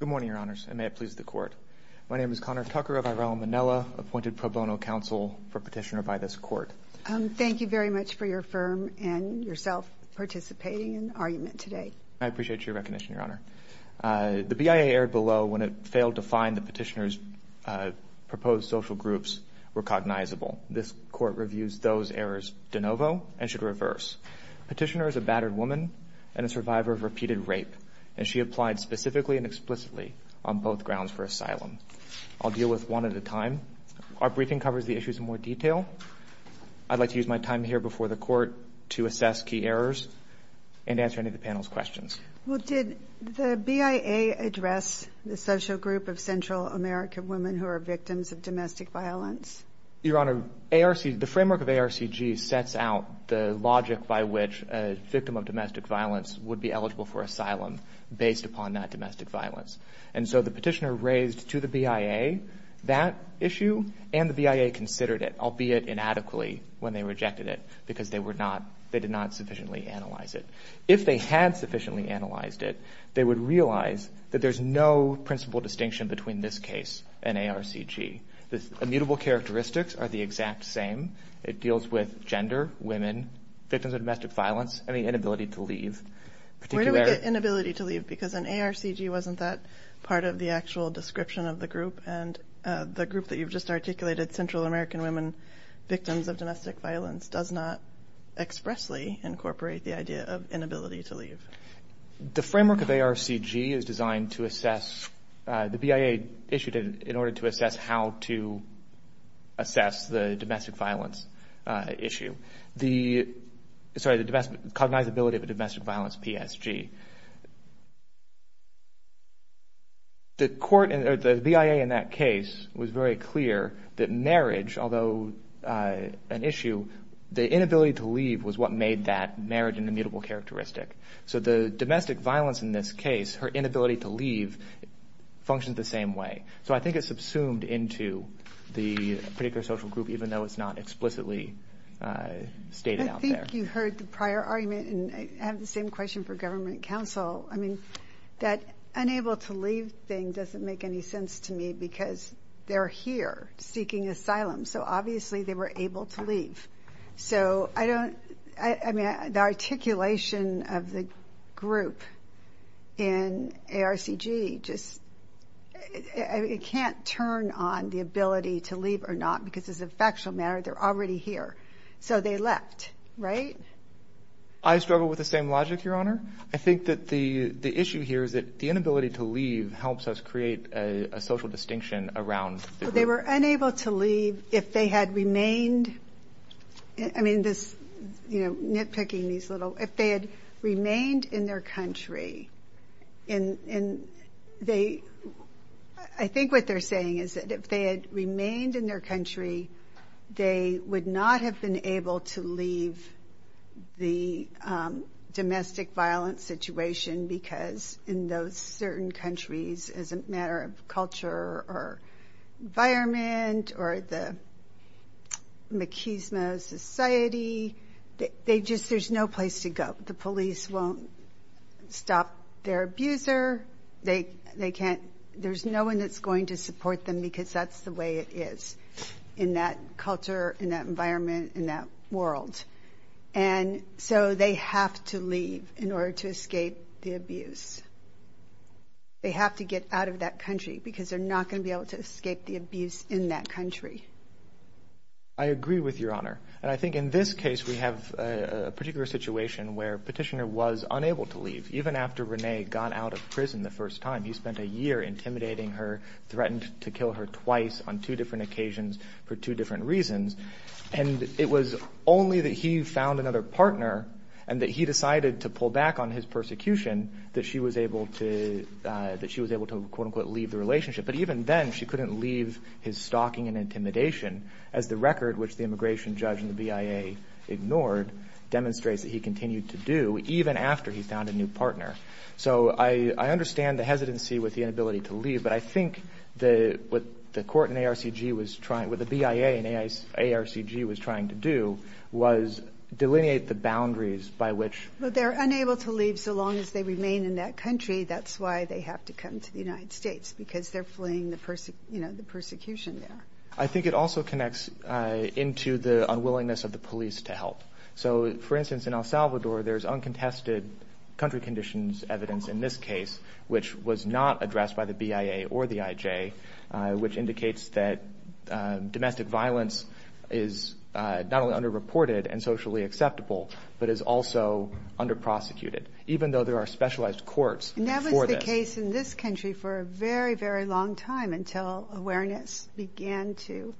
Good morning, Your Honors, and may it please the Court. My name is Connor Tucker of Irelmanella, appointed pro bono counsel for petitioner by this Court. Thank you very much for your firm and yourself participating in the argument today. I appreciate your recognition, Your Honor. The BIA erred below when it failed to find the petitioner's proposed social groups recognizable. This Court reviews those errors de novo and should reverse. Petitioner is a battered woman and a survivor of repeated rape, and she applied specifically and explicitly on both grounds for asylum. I'll deal with one at a time. Our briefing covers the issues in more detail. I'd like to use my time here before the Court to assess key errors and answer any of the panel's questions. Well, did the BIA address the social group of Central American women who are victims of domestic violence? Your Honor, the framework of ARCG sets out the logic by which a victim of domestic violence would be eligible for asylum based upon that domestic violence. And so the petitioner raised to the BIA that issue, and the BIA considered it, albeit inadequately, when they rejected it, because they did not sufficiently analyze it. If they had sufficiently analyzed it, they would realize that there's no principal distinction between this case and ARCG. The immutable characteristics are the exact same. It deals with gender, women, victims of domestic violence, and the inability to leave. Where do we get inability to leave? Because an ARCG wasn't that part of the actual description of the group, and the group that you've just articulated, Central American women, victims of domestic violence, does not expressly incorporate the idea of inability to leave. The framework of ARCG is designed to assess, the BIA issued it in order to assess how to assess the domestic violence issue. The, sorry, the cognizability of a domestic violence PSG. The court, or the BIA in that case, was very clear that marriage, although an issue, the inability to leave was what made that marriage an immutable characteristic. So the domestic violence in this case, her inability to leave, functions the same way. So I think it subsumed into the particular social group, even though it's not explicitly stated out there. I think you heard the prior argument, and I have the same question for government counsel. I mean, that unable to leave thing doesn't make any sense to me, because they're here seeking asylum, so obviously they were able to leave. So I don't, I mean, the articulation of the group in ARCG just, it can't turn on the ability to leave or not, because as a factual matter, they're already here. So they left, right? I struggle with the same logic, Your Honor. I think that the issue here is that the inability to leave helps us create a social distinction around the group. So they were unable to leave if they had remained, I mean, this, you know, nitpicking these little, if they had remained in their country, and they, I think what they're saying is that if they had remained in their country, they would not have been able to leave the domestic violence situation, because in those certain countries, as a matter of culture or environment or the machismo society, they just, there's no place to go. The police won't stop their abuser. They can't, there's no one that's going to support them, because that's the way it is in that culture, in that environment, in that world. And so they have to leave in order to escape the abuse. They have to get out of that country, because they're not going to be able to escape the abuse in that country. I agree with Your Honor, and I think in this case, we have a particular situation where Petitioner was unable to leave, even after Rene got out of prison the first time. He spent a year intimidating her, threatened to kill her twice on two different occasions for two different reasons. And it was only that he found another partner and that he decided to pull back on his persecution that she was able to, that she was able to, quote, unquote, leave the relationship. But even then, she couldn't leave his stalking and intimidation, as the record, which the immigration judge and the BIA ignored, demonstrates that he continued to do, even after he found a new partner. So I understand the hesitancy with the inability to leave, but I think the, what the court in ARCG was trying, what the BIA in ARCG was trying to do, was delineate the boundaries by which. But they're unable to leave so long as they remain in that country. That's why they have to come to the United States, because they're fleeing the, you know, the persecution there. I think it also connects into the unwillingness of the police to help. So, for instance, in El Salvador, there's uncontested country conditions evidence in this case, which was not addressed by the BIA or the IJ, which indicates that domestic violence is not only under-reported and socially acceptable, but is also under-prosecuted, even though there are specialized courts for this. And that was the case in this country for a very, very long time, until awareness began to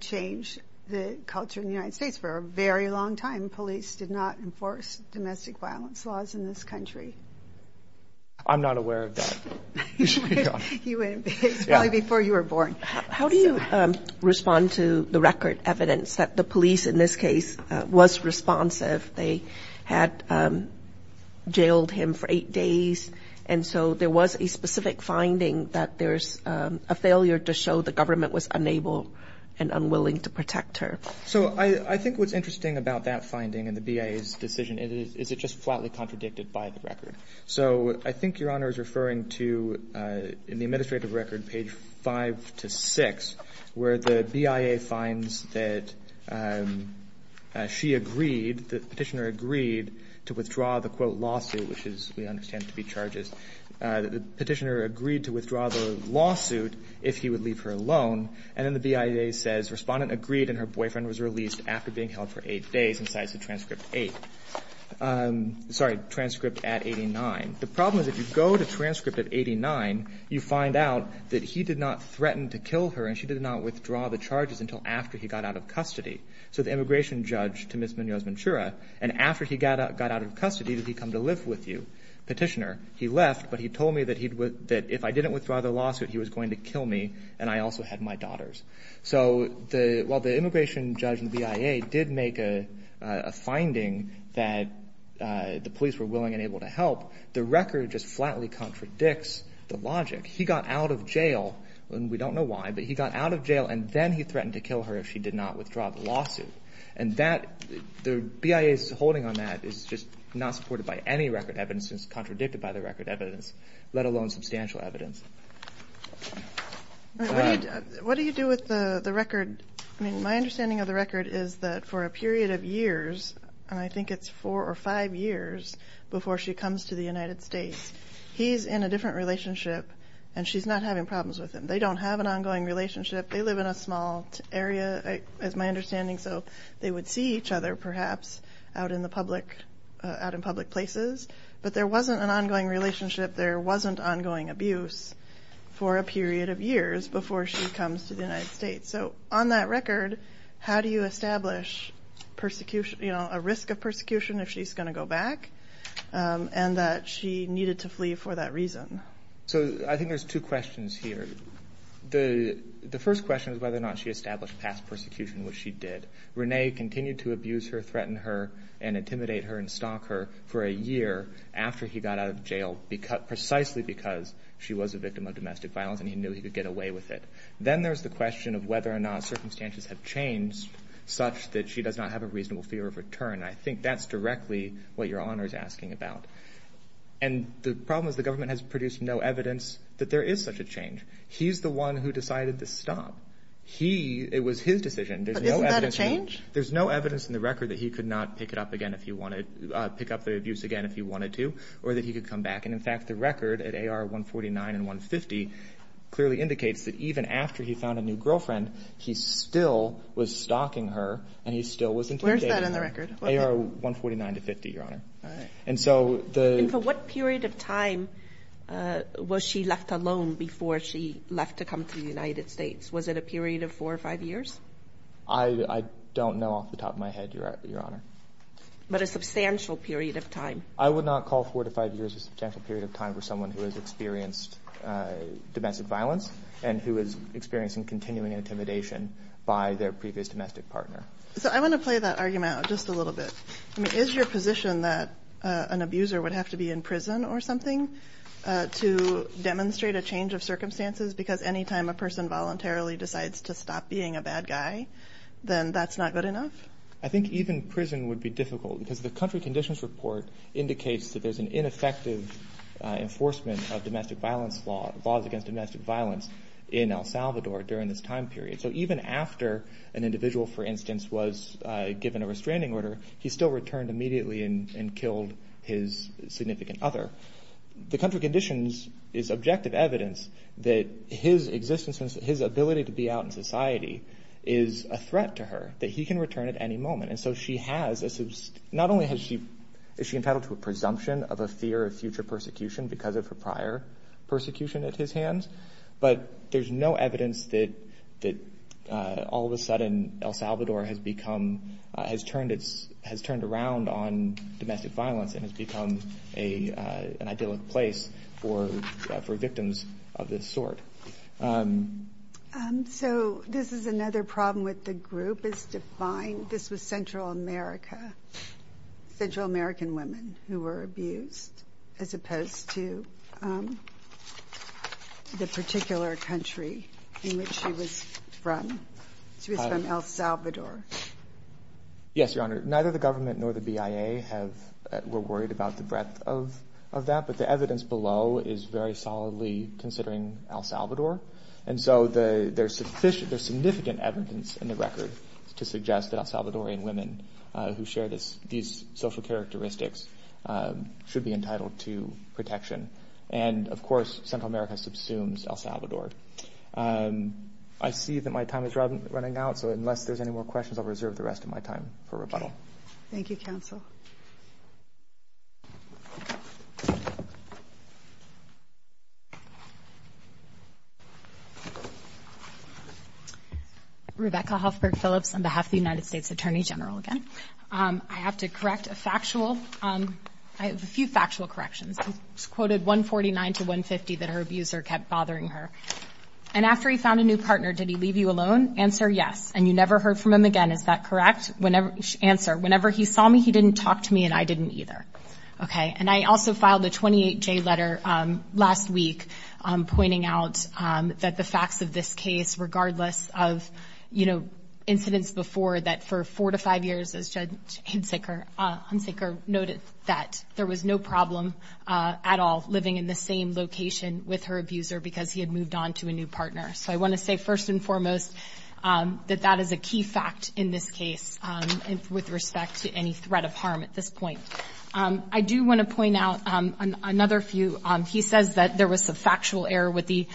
change the culture in the United States. For a very long time, police did not enforce domestic violence laws in this country. I'm not aware of that. You should be, Your Honor. You weren't. It was probably before you were born. How do you respond to the record evidence that the police, in this case, was responsive? They had jailed him for eight days, and so there was a specific finding that there's a failure to show the government was unable and unwilling to protect her. So, I think what's interesting about that finding and the BIA's decision is it just flatly contradicted by the record. So, I think Your Honor is referring to, in the administrative record, page 5 to 6, where the BIA finds that she agreed, the Petitioner agreed, to withdraw the, quote, lawsuit, which is, we understand, to be charges. The Petitioner agreed to withdraw the lawsuit if he would leave her alone. And then the BIA says, Respondent agreed and her boyfriend was released after being held for eight days, and so that's the transcript 8, sorry, transcript at 89. The problem is if you go to transcript at 89, you find out that he did not threaten to kill her and she did not withdraw the charges until after he got out of custody. So, the immigration judge to Ms. Munoz-Manchura, and after he got out of custody, did he come to live with you, Petitioner? He left, but he told me that if I didn't withdraw the lawsuit, he was going to kill me and I also had my daughters. So, while the immigration judge and the BIA did make a finding that the police were willing and able to help, the record just flatly contradicts the logic. He got out of jail, and we don't know why, but he got out of jail and then he threatened to kill her if she did not withdraw the lawsuit. And that, the BIA's holding on that is just not supported by any record evidence. It's contradicted by the record evidence, let alone substantial evidence. What do you do with the record? I mean, my understanding of the record is that for a period of years, and I think it's four or five years before she comes to the United States, he's in a different relationship and she's not having problems with him. They don't have an ongoing relationship. They live in a small area, as my understanding. So, they would see each other perhaps out in the public, out in public places, but there wasn't an ongoing relationship. There wasn't ongoing abuse for a period of years before she comes to the United States. So, on that record, how do you establish persecution, you know, a risk of persecution if she's going to go back, and that she needed to flee for that reason? So, I think there's two questions here. The first question is whether or not she established past persecution, which she did. Renee continued to abuse her, threaten her, and intimidate her and stalk her for a year after he got out of jail, precisely because she was a victim of domestic violence and he knew he could get away with it. Then there's the question of whether or not circumstances have changed such that she does not have a reasonable fear of return. And I think that's directly what your Honor is asking about. And the problem is the government has produced no evidence that there is such a change. He's the one who decided to stop. He, it was his decision. There's no evidence. But isn't that a change? There's no evidence in the record that he could not pick it up again if he wanted, pick up the abuse again if he wanted to, or that he could come back. And in fact, the record at AR 149 and 150 clearly indicates that even after he found a new girlfriend, he still was stalking her and he still was intimidating her. Where is that in the record? AR 149 to 50, your Honor. All right. And so the. And for what period of time was she left alone before she left to come to the United States? Was it a period of four or five years? I don't know off the top of my head, your Honor. But a substantial period of time. I would not call four to five years a substantial period of time for someone who has experienced domestic violence and who is experiencing continuing intimidation by their previous domestic partner. So I want to play that argument out just a little bit. I mean, is your position that an abuser would have to be in prison or something to demonstrate a change of circumstances? Because anytime a person voluntarily decides to stop being a bad guy, then that's not good enough? I think even prison would be difficult because the country conditions report indicates that there's an ineffective enforcement of domestic violence laws, laws against domestic violence in El Salvador during this time period. So even after an individual, for instance, was given a restraining order, he still returned immediately and killed his significant other. The country conditions is objective evidence that his existence and his ability to be out in society is a threat to her, that he can return at any moment. And so she has, not only is she entitled to a presumption of a fear of future persecution because of her prior persecution at his hands, but there's no evidence that all of a sudden, El Salvador has turned around on domestic violence and has become an idyllic place for victims of this sort. So this is another problem with the group is to find, this was Central America, Central American women who were abused as opposed to the particular country in which she was from, she was from El Salvador. Yes, Your Honor. Neither the government nor the BIA have, were worried about the breadth of that, but the evidence below is very solidly considering El Salvador. And so there's sufficient, there's significant evidence in the record to suggest that El Salvadorian women who share these social characteristics should be entitled to protection, and of course, Central America subsumes El Salvador. I see that my time is running out, so unless there's any more questions, I'll reserve the rest of my time for rebuttal. Thank you, counsel. Rebecca Huffberg Phillips on behalf of the United States Attorney General again. I have to correct a factual, I have a few factual corrections. It's quoted 149 to 150 that her abuser kept bothering her. And after he found a new partner, did he leave you alone? Answer, yes. And you never heard from him again, is that correct? Whenever, answer, whenever he saw me, he didn't talk to me and I didn't either. Okay, and I also filed a 28J letter last week, pointing out that the facts of this case, regardless of, you know, incidents before that for four to five years, as Judge Hunsaker noted, that there was no problem at all living in the same location with her abuser, because he had moved on to a new partner. So I want to say, first and foremost, that that is a key fact in this case, with respect to any threat of harm at this point. I do want to point out another few. He says that there was a factual error with the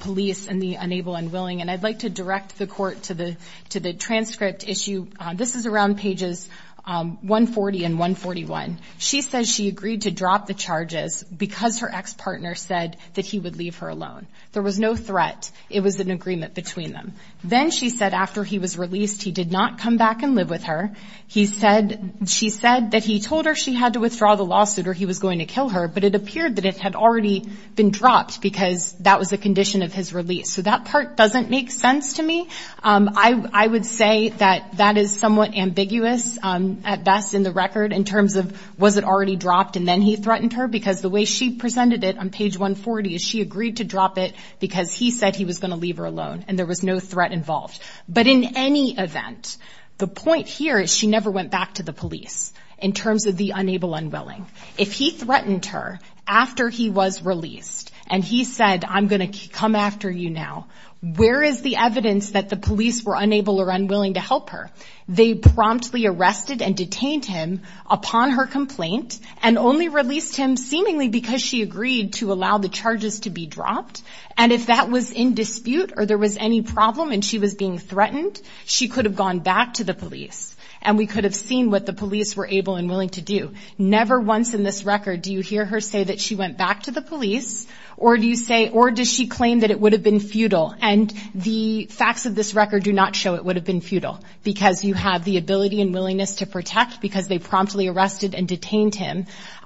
police and the unable and willing, and I'd like to direct the court to the transcript issue. This is around pages 140 and 141. She says she agreed to drop the charges because her ex-partner said that he would leave her alone. There was no threat. It was an agreement between them. Then she said after he was released, he did not come back and live with her. He said, she said that he told her she had to withdraw the lawsuit or he was going to kill her, but it appeared that it had already been dropped because that was a condition of his release. So that part doesn't make sense to me. I would say that that is somewhat ambiguous at best in the record, in terms of, was it already dropped and then he threatened her? Because the way she presented it on page 140 is she agreed to drop it because he said he was going to leave her alone and there was no threat involved. But in any event, the point here is she never went back to the police in terms of the unable unwilling. If he threatened her after he was released and he said I'm going to come after you now, where is the evidence that the police were unable or unwilling to help her? They promptly arrested and detained him upon her complaint and only released him seemingly because she agreed to allow the charges to be dropped. And if that was in dispute or there was any problem and she was being threatened, she could have gone back to the police. And we could have seen what the police were able and willing to do. Never once in this record do you hear her say that she went back to the police, or do you say, or does she claim that it would have been futile? And the facts of this record do not show it would have been futile, because you have the ability and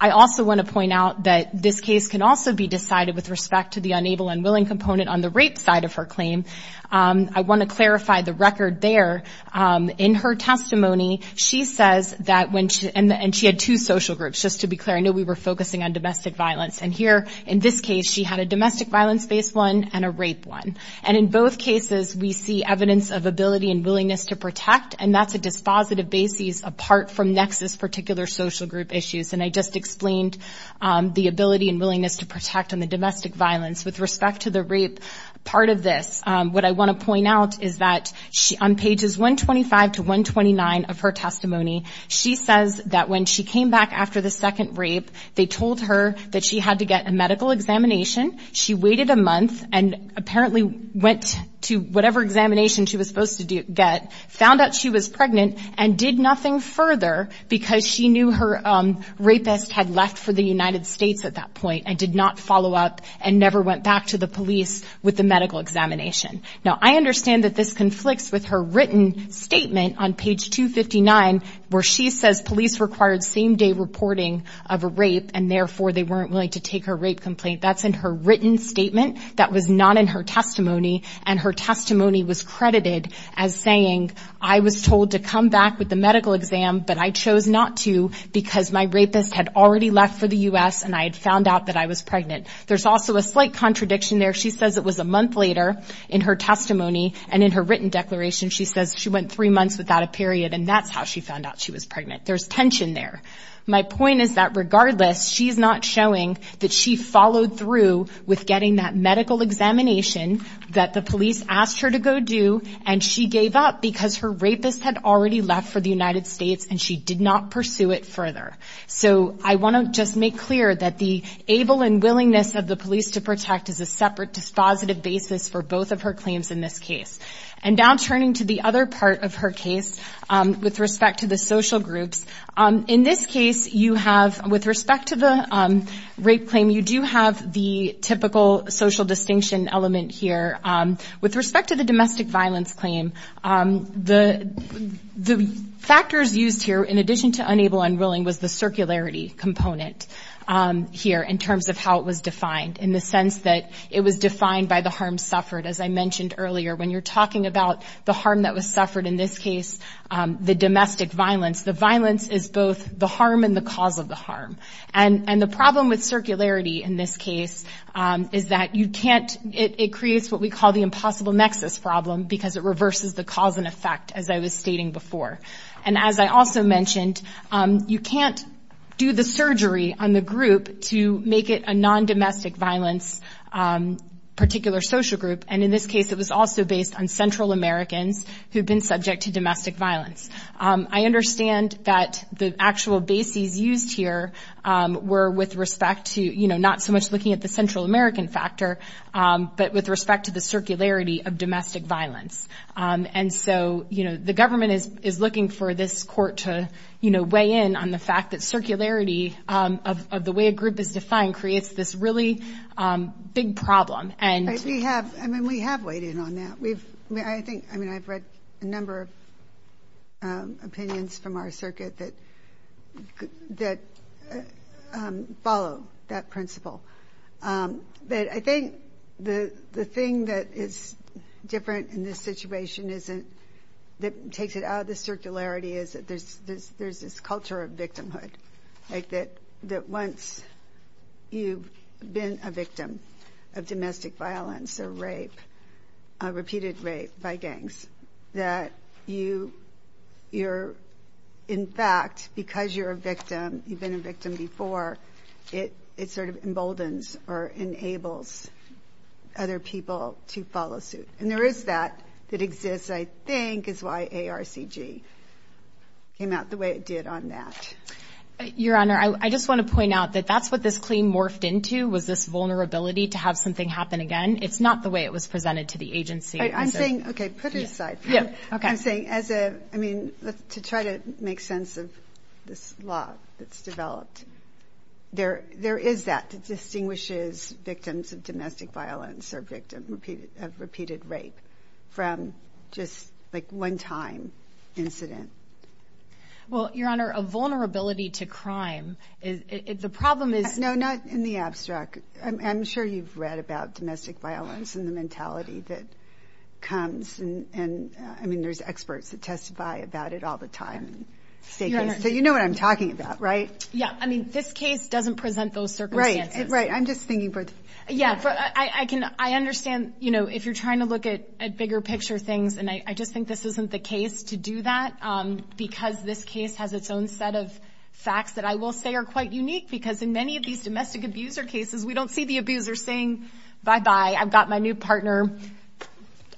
I also want to point out that this case can also be decided with respect to the unable and willing component on the rape side of her claim. I want to clarify the record there. In her testimony, she says that when she, and she had two social groups. Just to be clear, I know we were focusing on domestic violence. And here, in this case, she had a domestic violence-based one and a rape one. And in both cases, we see evidence of ability and willingness to protect. And that's a dispositive basis apart from Nexus particular social group issues. And I just explained the ability and willingness to protect on the domestic violence with respect to the rape part of this. What I want to point out is that on pages 125 to 129 of her testimony, she says that when she came back after the second rape, they told her that she had to get a medical examination. She waited a month and apparently went to whatever examination she was supposed to get. Found out she was pregnant and did nothing further because she knew her rapist had left for the United States at that point and did not follow up and never went back to the police with the medical examination. Now, I understand that this conflicts with her written statement on page 259 where she says police required same day reporting of a rape and therefore they weren't willing to take her rape complaint. That's in her written statement. That was not in her testimony. And her testimony was credited as saying, I was told to come back with the medical exam, but I chose not to because my rapist had already left for the US and I had found out that I was pregnant. There's also a slight contradiction there. She says it was a month later in her testimony and in her written declaration, she says she went three months without a period and that's how she found out she was pregnant. There's tension there. My point is that regardless, she's not showing that she followed through with getting that medical examination that the police asked her to go do and she gave up because her rapist had already left for the United States and she did not pursue it further. So I want to just make clear that the able and willingness of the police to protect is a separate dispositive basis for both of her claims in this case. And now turning to the other part of her case with respect to the social groups. In this case, with respect to the rape claim, you do have the typical social distinction element here. With respect to the domestic violence claim, the factors used here, in addition to unable and willing, was the circularity component here in terms of how it was defined in the sense that it was defined by the harm suffered. As I mentioned earlier, when you're talking about the harm that was suffered, in this case, the domestic violence, the violence is both the harm and the cause of the harm. And the problem with circularity in this case is that you can't, it creates what we call the impossible nexus problem because it reverses the cause and effect as I was stating before. And as I also mentioned, you can't do the surgery on the group to make it a non-domestic violence particular social group. And in this case, it was also based on Central Americans who had been subject to domestic violence. I understand that the actual bases used here were with respect to, not so much looking at the Central American factor, but with respect to the circularity of domestic violence. And so the government is looking for this court to weigh in on the fact that circularity of the way a group is defined creates this really big problem. And- We have weighed in on that. I've read a number of opinions from our circuit that follow that principle. But I think the thing that is different in this situation isn't, that takes it out of the circularity is that there's this culture of victimhood. Like that once you've been a victim of domestic violence or rape, repeated rape by gangs, that you're, in fact, because you're a victim, you've been a victim before, it sort of emboldens or enables other people to follow suit. And there is that that exists, I think, is why ARCG came out the way it did on that. Your Honor, I just want to point out that that's what this claim morphed into, was this vulnerability to have something happen again. It's not the way it was presented to the agency. I'm saying, okay, put it aside. Yeah, okay. I'm saying as a, I mean, to try to make sense of this law that's developed, there is that that distinguishes victims of domestic violence or victim of repeated rape from just like one time incident. Well, Your Honor, a vulnerability to crime, the problem is- No, not in the abstract. I'm sure you've read about domestic violence and the mentality that comes. And I mean, there's experts that testify about it all the time. So you know what I'm talking about, right? Yeah, I mean, this case doesn't present those circumstances. Right, I'm just thinking for- Yeah, I understand if you're trying to look at bigger picture things, and I just think this isn't the case to do that. Because this case has its own set of facts that I will say are quite unique. Because in many of these domestic abuser cases, we don't see the abuser saying, bye-bye, I've got my new partner,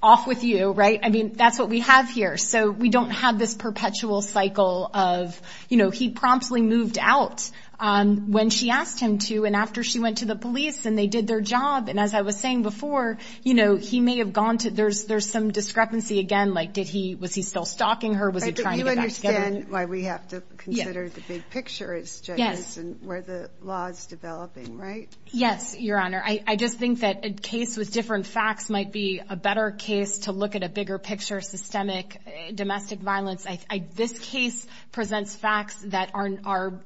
off with you, right? I mean, that's what we have here. So we don't have this perpetual cycle of, he promptly moved out when she asked him to and after she went to the police and they did their job. And as I was saying before, he may have gone to, there's some discrepancy again. Like did he, was he still stalking her? Was he trying to get back together? Right, but you understand why we have to consider the big picture as judges and where the law is developing, right? Yes, Your Honor. I just think that a case with different facts might be a better case to look at a bigger picture, systemic domestic violence. This case presents facts that are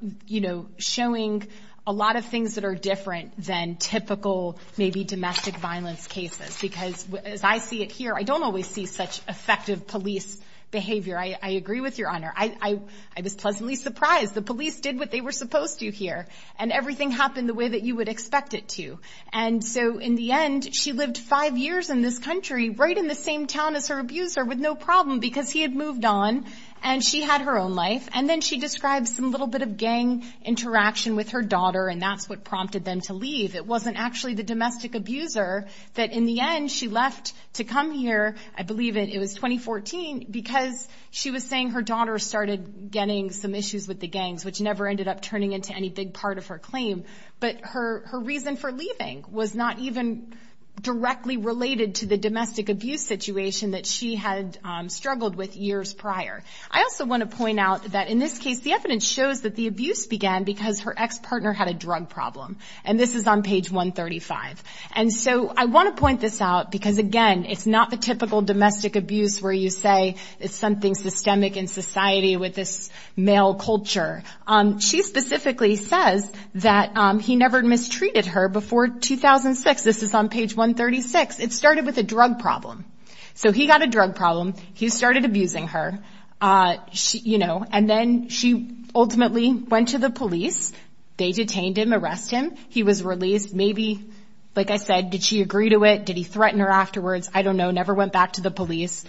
showing a lot of things that are different than typical, maybe domestic violence cases. Because as I see it here, I don't always see such effective police behavior. I agree with Your Honor, I was pleasantly surprised. The police did what they were supposed to here. And everything happened the way that you would expect it to. And so in the end, she lived five years in this country, right in the same town as her abuser with no problem because he had moved on. And she had her own life. And then she describes some little bit of gang interaction with her daughter and that's what prompted them to leave. It wasn't actually the domestic abuser that in the end she left to come here. I believe it was 2014 because she was saying her daughter started getting some issues with the gangs, which never ended up turning into any big part of her claim. But her reason for leaving was not even directly related to the domestic abuse situation that she had struggled with years prior. I also want to point out that in this case, the evidence shows that the abuse began because her ex-partner had a drug problem. And this is on page 135. And so I want to point this out because again, it's not the typical domestic abuse where you say it's something systemic in society with this male culture. She specifically says that he never mistreated her before 2006. This is on page 136. It started with a drug problem. So he got a drug problem. He started abusing her, you know, and then she ultimately went to the police. They detained him, arrested him. He was released. Maybe, like I said, did she agree to it? Did he threaten her afterwards? I don't know. Never went back to the police.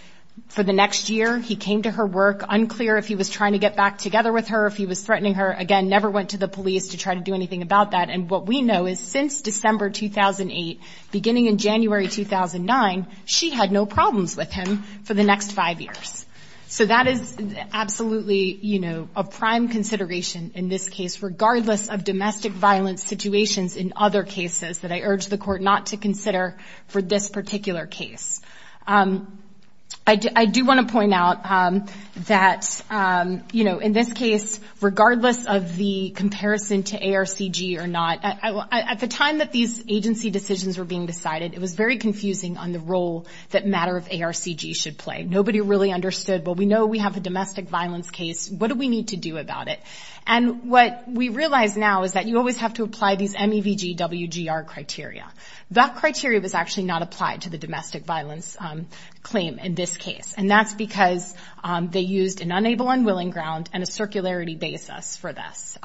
For the next year, he came to her work. Unclear if he was trying to get back together with her, if he was threatening her. Again, never went to the police to try to do anything about that. And what we know is since December 2008, beginning in January 2009, she had no problems with him for the next five years. So that is absolutely, you know, a prime consideration in this case, regardless of domestic violence situations in other cases that I urge the court not to consider for this particular case. I do want to point out that, you know, in this case, regardless of the comparison to ARCG or not, at the time that these agency decisions were being decided, it was very confusing on the role that matter of ARCG should play. Nobody really understood. Well, we know we have a domestic violence case. What do we need to do about it? And what we realize now is that you always have to apply these MEVG WGR criteria. That criteria was actually not applied to the domestic violence claim in this case. And that's because they used an unable unwilling ground and a circularity basis for this.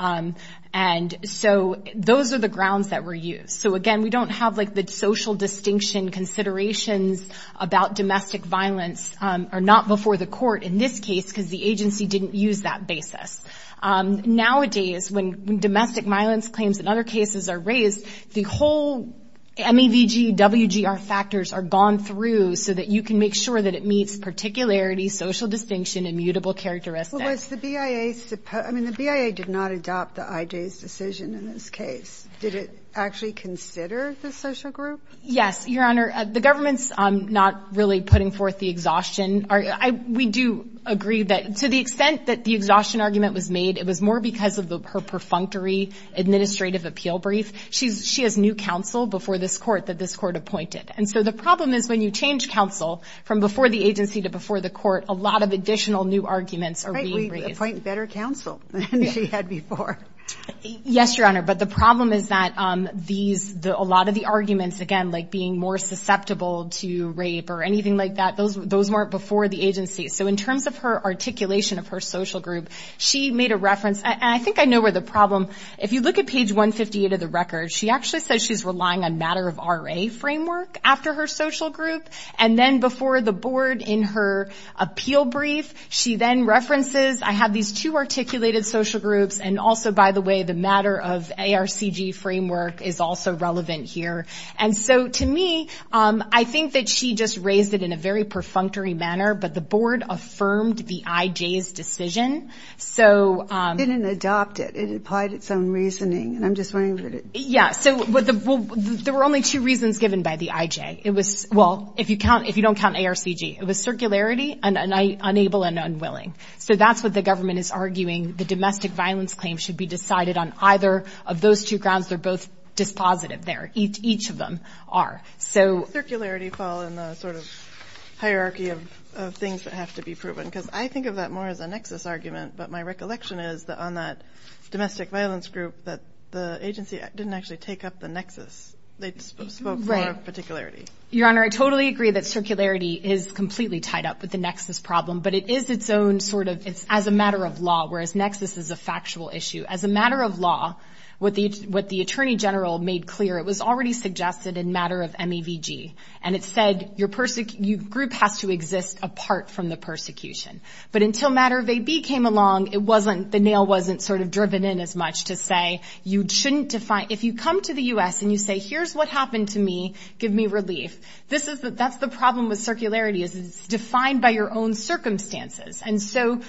And so those are the grounds that were used. So again, we don't have like the social distinction considerations about domestic violence are not before the court in this case because the agency didn't use that basis. Nowadays, when domestic violence claims in other cases are raised, the whole MEVG WGR factors are gone through so that you can make sure that it meets particularity, social distinction, immutable characteristics. Well, was the BIA supposed, I mean, the BIA did not adopt the IJ's decision in this case. Did it actually consider the social group? Yes, Your Honor. The government's not really putting forth the exhaustion. We do agree that to the extent that the exhaustion argument was made, it was more because of her perfunctory administrative appeal brief. She has new counsel before this court that this court appointed. And so the problem is when you change counsel from before the agency to before the court, a lot of additional new arguments are being raised. Appoint better counsel than she had before. Yes, Your Honor. But the problem is that these, a lot of the arguments, again, like being more susceptible to rape or anything like that, those weren't before the agency. So in terms of her articulation of her social group, she made a reference. And I think I know where the problem, if you look at page 158 of the record, she actually says she's relying on matter of RA framework after her social group. And then before the board in her appeal brief, she then references, I have these two articulated social groups. And also, by the way, the matter of ARCG framework is also relevant here. And so to me, I think that she just raised it in a very perfunctory manner, but the board affirmed the IJ's decision. So. Didn't adopt it. It applied its own reasoning. And I'm just wondering. Yeah, so there were only two reasons given by the IJ. It was, well, if you count, if you don't count ARCG, it was circularity and unable and unwilling. So that's what the government is arguing. The domestic violence claim should be decided on either of those two grounds. They're both dispositive there. Each of them are. So. Circularity fall in the sort of hierarchy of things that have to be proven. Because I think of that more as a nexus argument. But my recollection is that on that domestic violence group, that the agency didn't actually take up the nexus. They spoke for particularity. Your Honor, I totally agree that circularity is completely tied up with the nexus problem, but it is its own sort of it's as a matter of law, whereas nexus is a factual issue. As a matter of law, what the what the attorney general made clear, it was already suggested in matter of MEVG. And it said your group has to exist apart from the persecution. But until matter of AB came along, it wasn't, the nail wasn't sort of driven in as much to say, you shouldn't define, if you come to the US and you say, here's what happened to me, give me relief. That's the problem with circularity, is it's defined by your own circumstances. And so,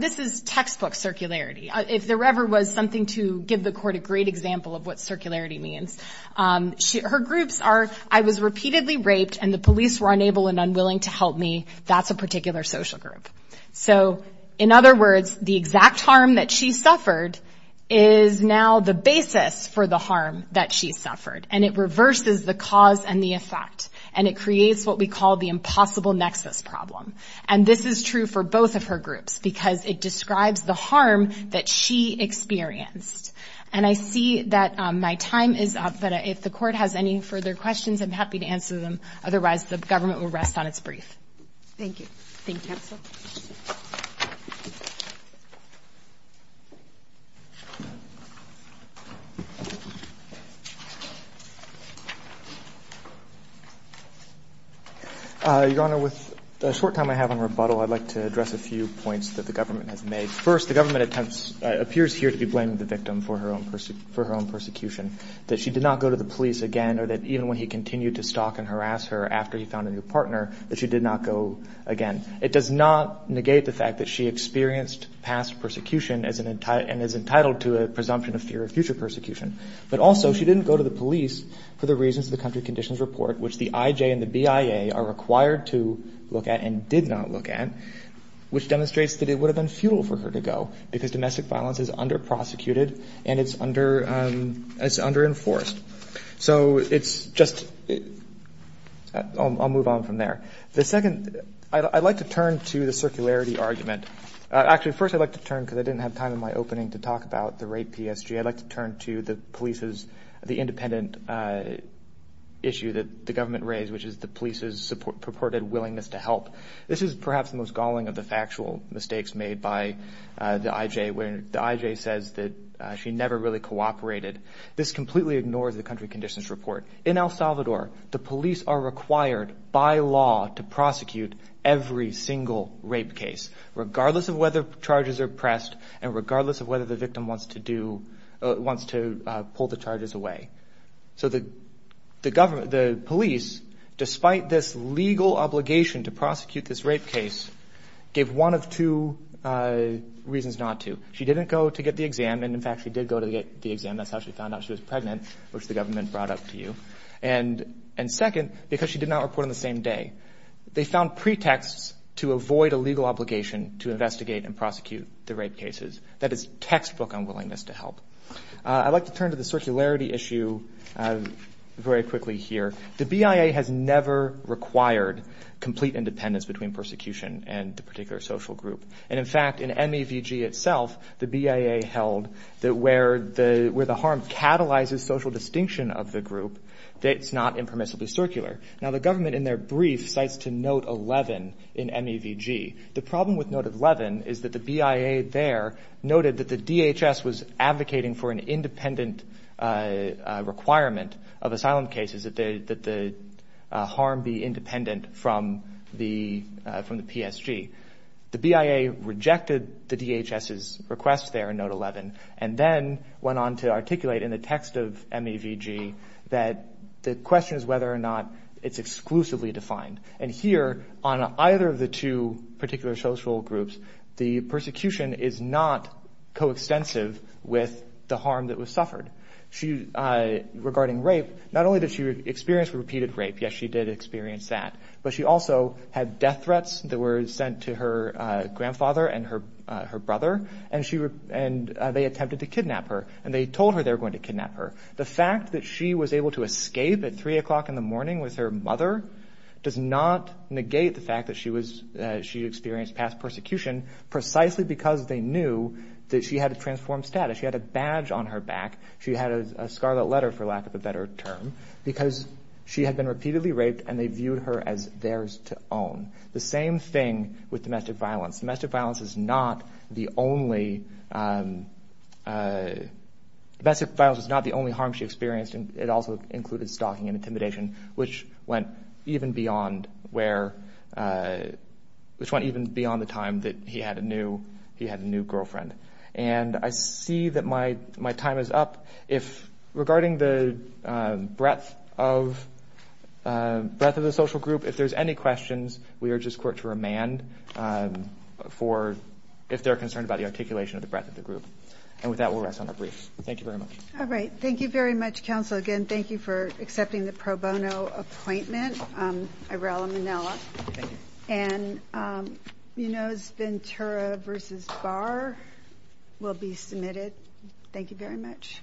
this is textbook circularity. If there ever was something to give the court a great example of what circularity means. Her groups are, I was repeatedly raped and the police were unable and unwilling to help me. That's a particular social group. So, in other words, the exact harm that she suffered is now the basis for the harm that she suffered. And it reverses the cause and the effect. And it creates what we call the impossible nexus problem. And this is true for both of her groups, because it describes the harm that she experienced. And I see that my time is up. But if the court has any further questions, I'm happy to answer them. Otherwise, the government will rest on its brief. Thank you. Thank you, counsel. Your Honor, with the short time I have on rebuttal, I'd like to address a few points that the government has made. First, the government appears here to be blaming the victim for her own persecution. That she did not go to the police again, or that even when he continued to stalk and harass her after he found a new partner, that she did not go again. It does not negate the fact that she experienced past persecution and is entitled to a presumption of fear of future persecution. But also, she didn't go to the police for the reasons the country conditions report, which the IJ and the BIA are required to look at and did not look at. Which demonstrates that it would have been futile for her to go, because domestic violence is under-prosecuted and it's under-enforced. So it's just, I'll move on from there. The second, I'd like to turn to the circularity argument. Actually, first I'd like to turn, because I didn't have time in my opening to talk about the rape PSG. I'd like to turn to the police's, the independent issue that the government raised, which is the police's purported willingness to help. This is perhaps the most galling of the factual mistakes made by the IJ, where the IJ says that she never really cooperated. This completely ignores the country conditions report. In El Salvador, the police are required by law to prosecute every single rape case, regardless of whether charges are pressed and regardless of whether the victim wants to do, wants to pull the charges away. So the police, despite this legal obligation to prosecute this rape case, gave one of two reasons not to. She didn't go to get the exam, and in fact she did go to get the exam. That's how she found out she was pregnant, which the government brought up to you. And second, because she did not report on the same day, they found pretexts to avoid a legal obligation to investigate and prosecute the rape cases. That is textbook unwillingness to help. I'd like to turn to the circularity issue very quickly here. The BIA has never required complete independence between persecution and the particular social group. And in fact, in MEVG itself, the BIA held that where the harm catalyzes social distinction of the group, it's not impermissibly circular. Now, the government in their brief cites to note 11 in MEVG. The problem with note 11 is that the BIA there noted that the DHS was advocating for an independent requirement of asylum cases that the harm be independent from the PSG. The BIA rejected the DHS's request there in note 11, and then went on to articulate in the text of MEVG that the question is whether or not it's exclusively defined. And here, on either of the two particular social groups, the persecution is not coextensive with the harm that was suffered regarding rape. Not only did she experience repeated rape, yes, she did experience that, but she also had death threats that were sent to her grandfather and her brother, and they attempted to kidnap her. And they told her they were going to kidnap her. The fact that she was able to escape at 3 o'clock in the morning with her mother does not negate the fact that she experienced past persecution precisely because they knew that she had a transformed status. She had a badge on her back. She had a scarlet letter, for lack of a better term, because she had been repeatedly raped and they viewed her as theirs to own. The same thing with domestic violence. Domestic violence is not the only harm she experienced, and it also included stalking and intimidation, which went even beyond the time that he had a new girlfriend. And I see that my time is up. If regarding the breadth of the social group, if there's any questions, we urge this court to remand if they're concerned about the articulation of the breadth of the group. And with that, we'll rest on our briefs. Thank you very much. All right. Thank you very much, counsel. Again, thank you for accepting the pro bono appointment, Irela Manela. And Munoz Ventura versus Barr will be submitted. Thank you very much.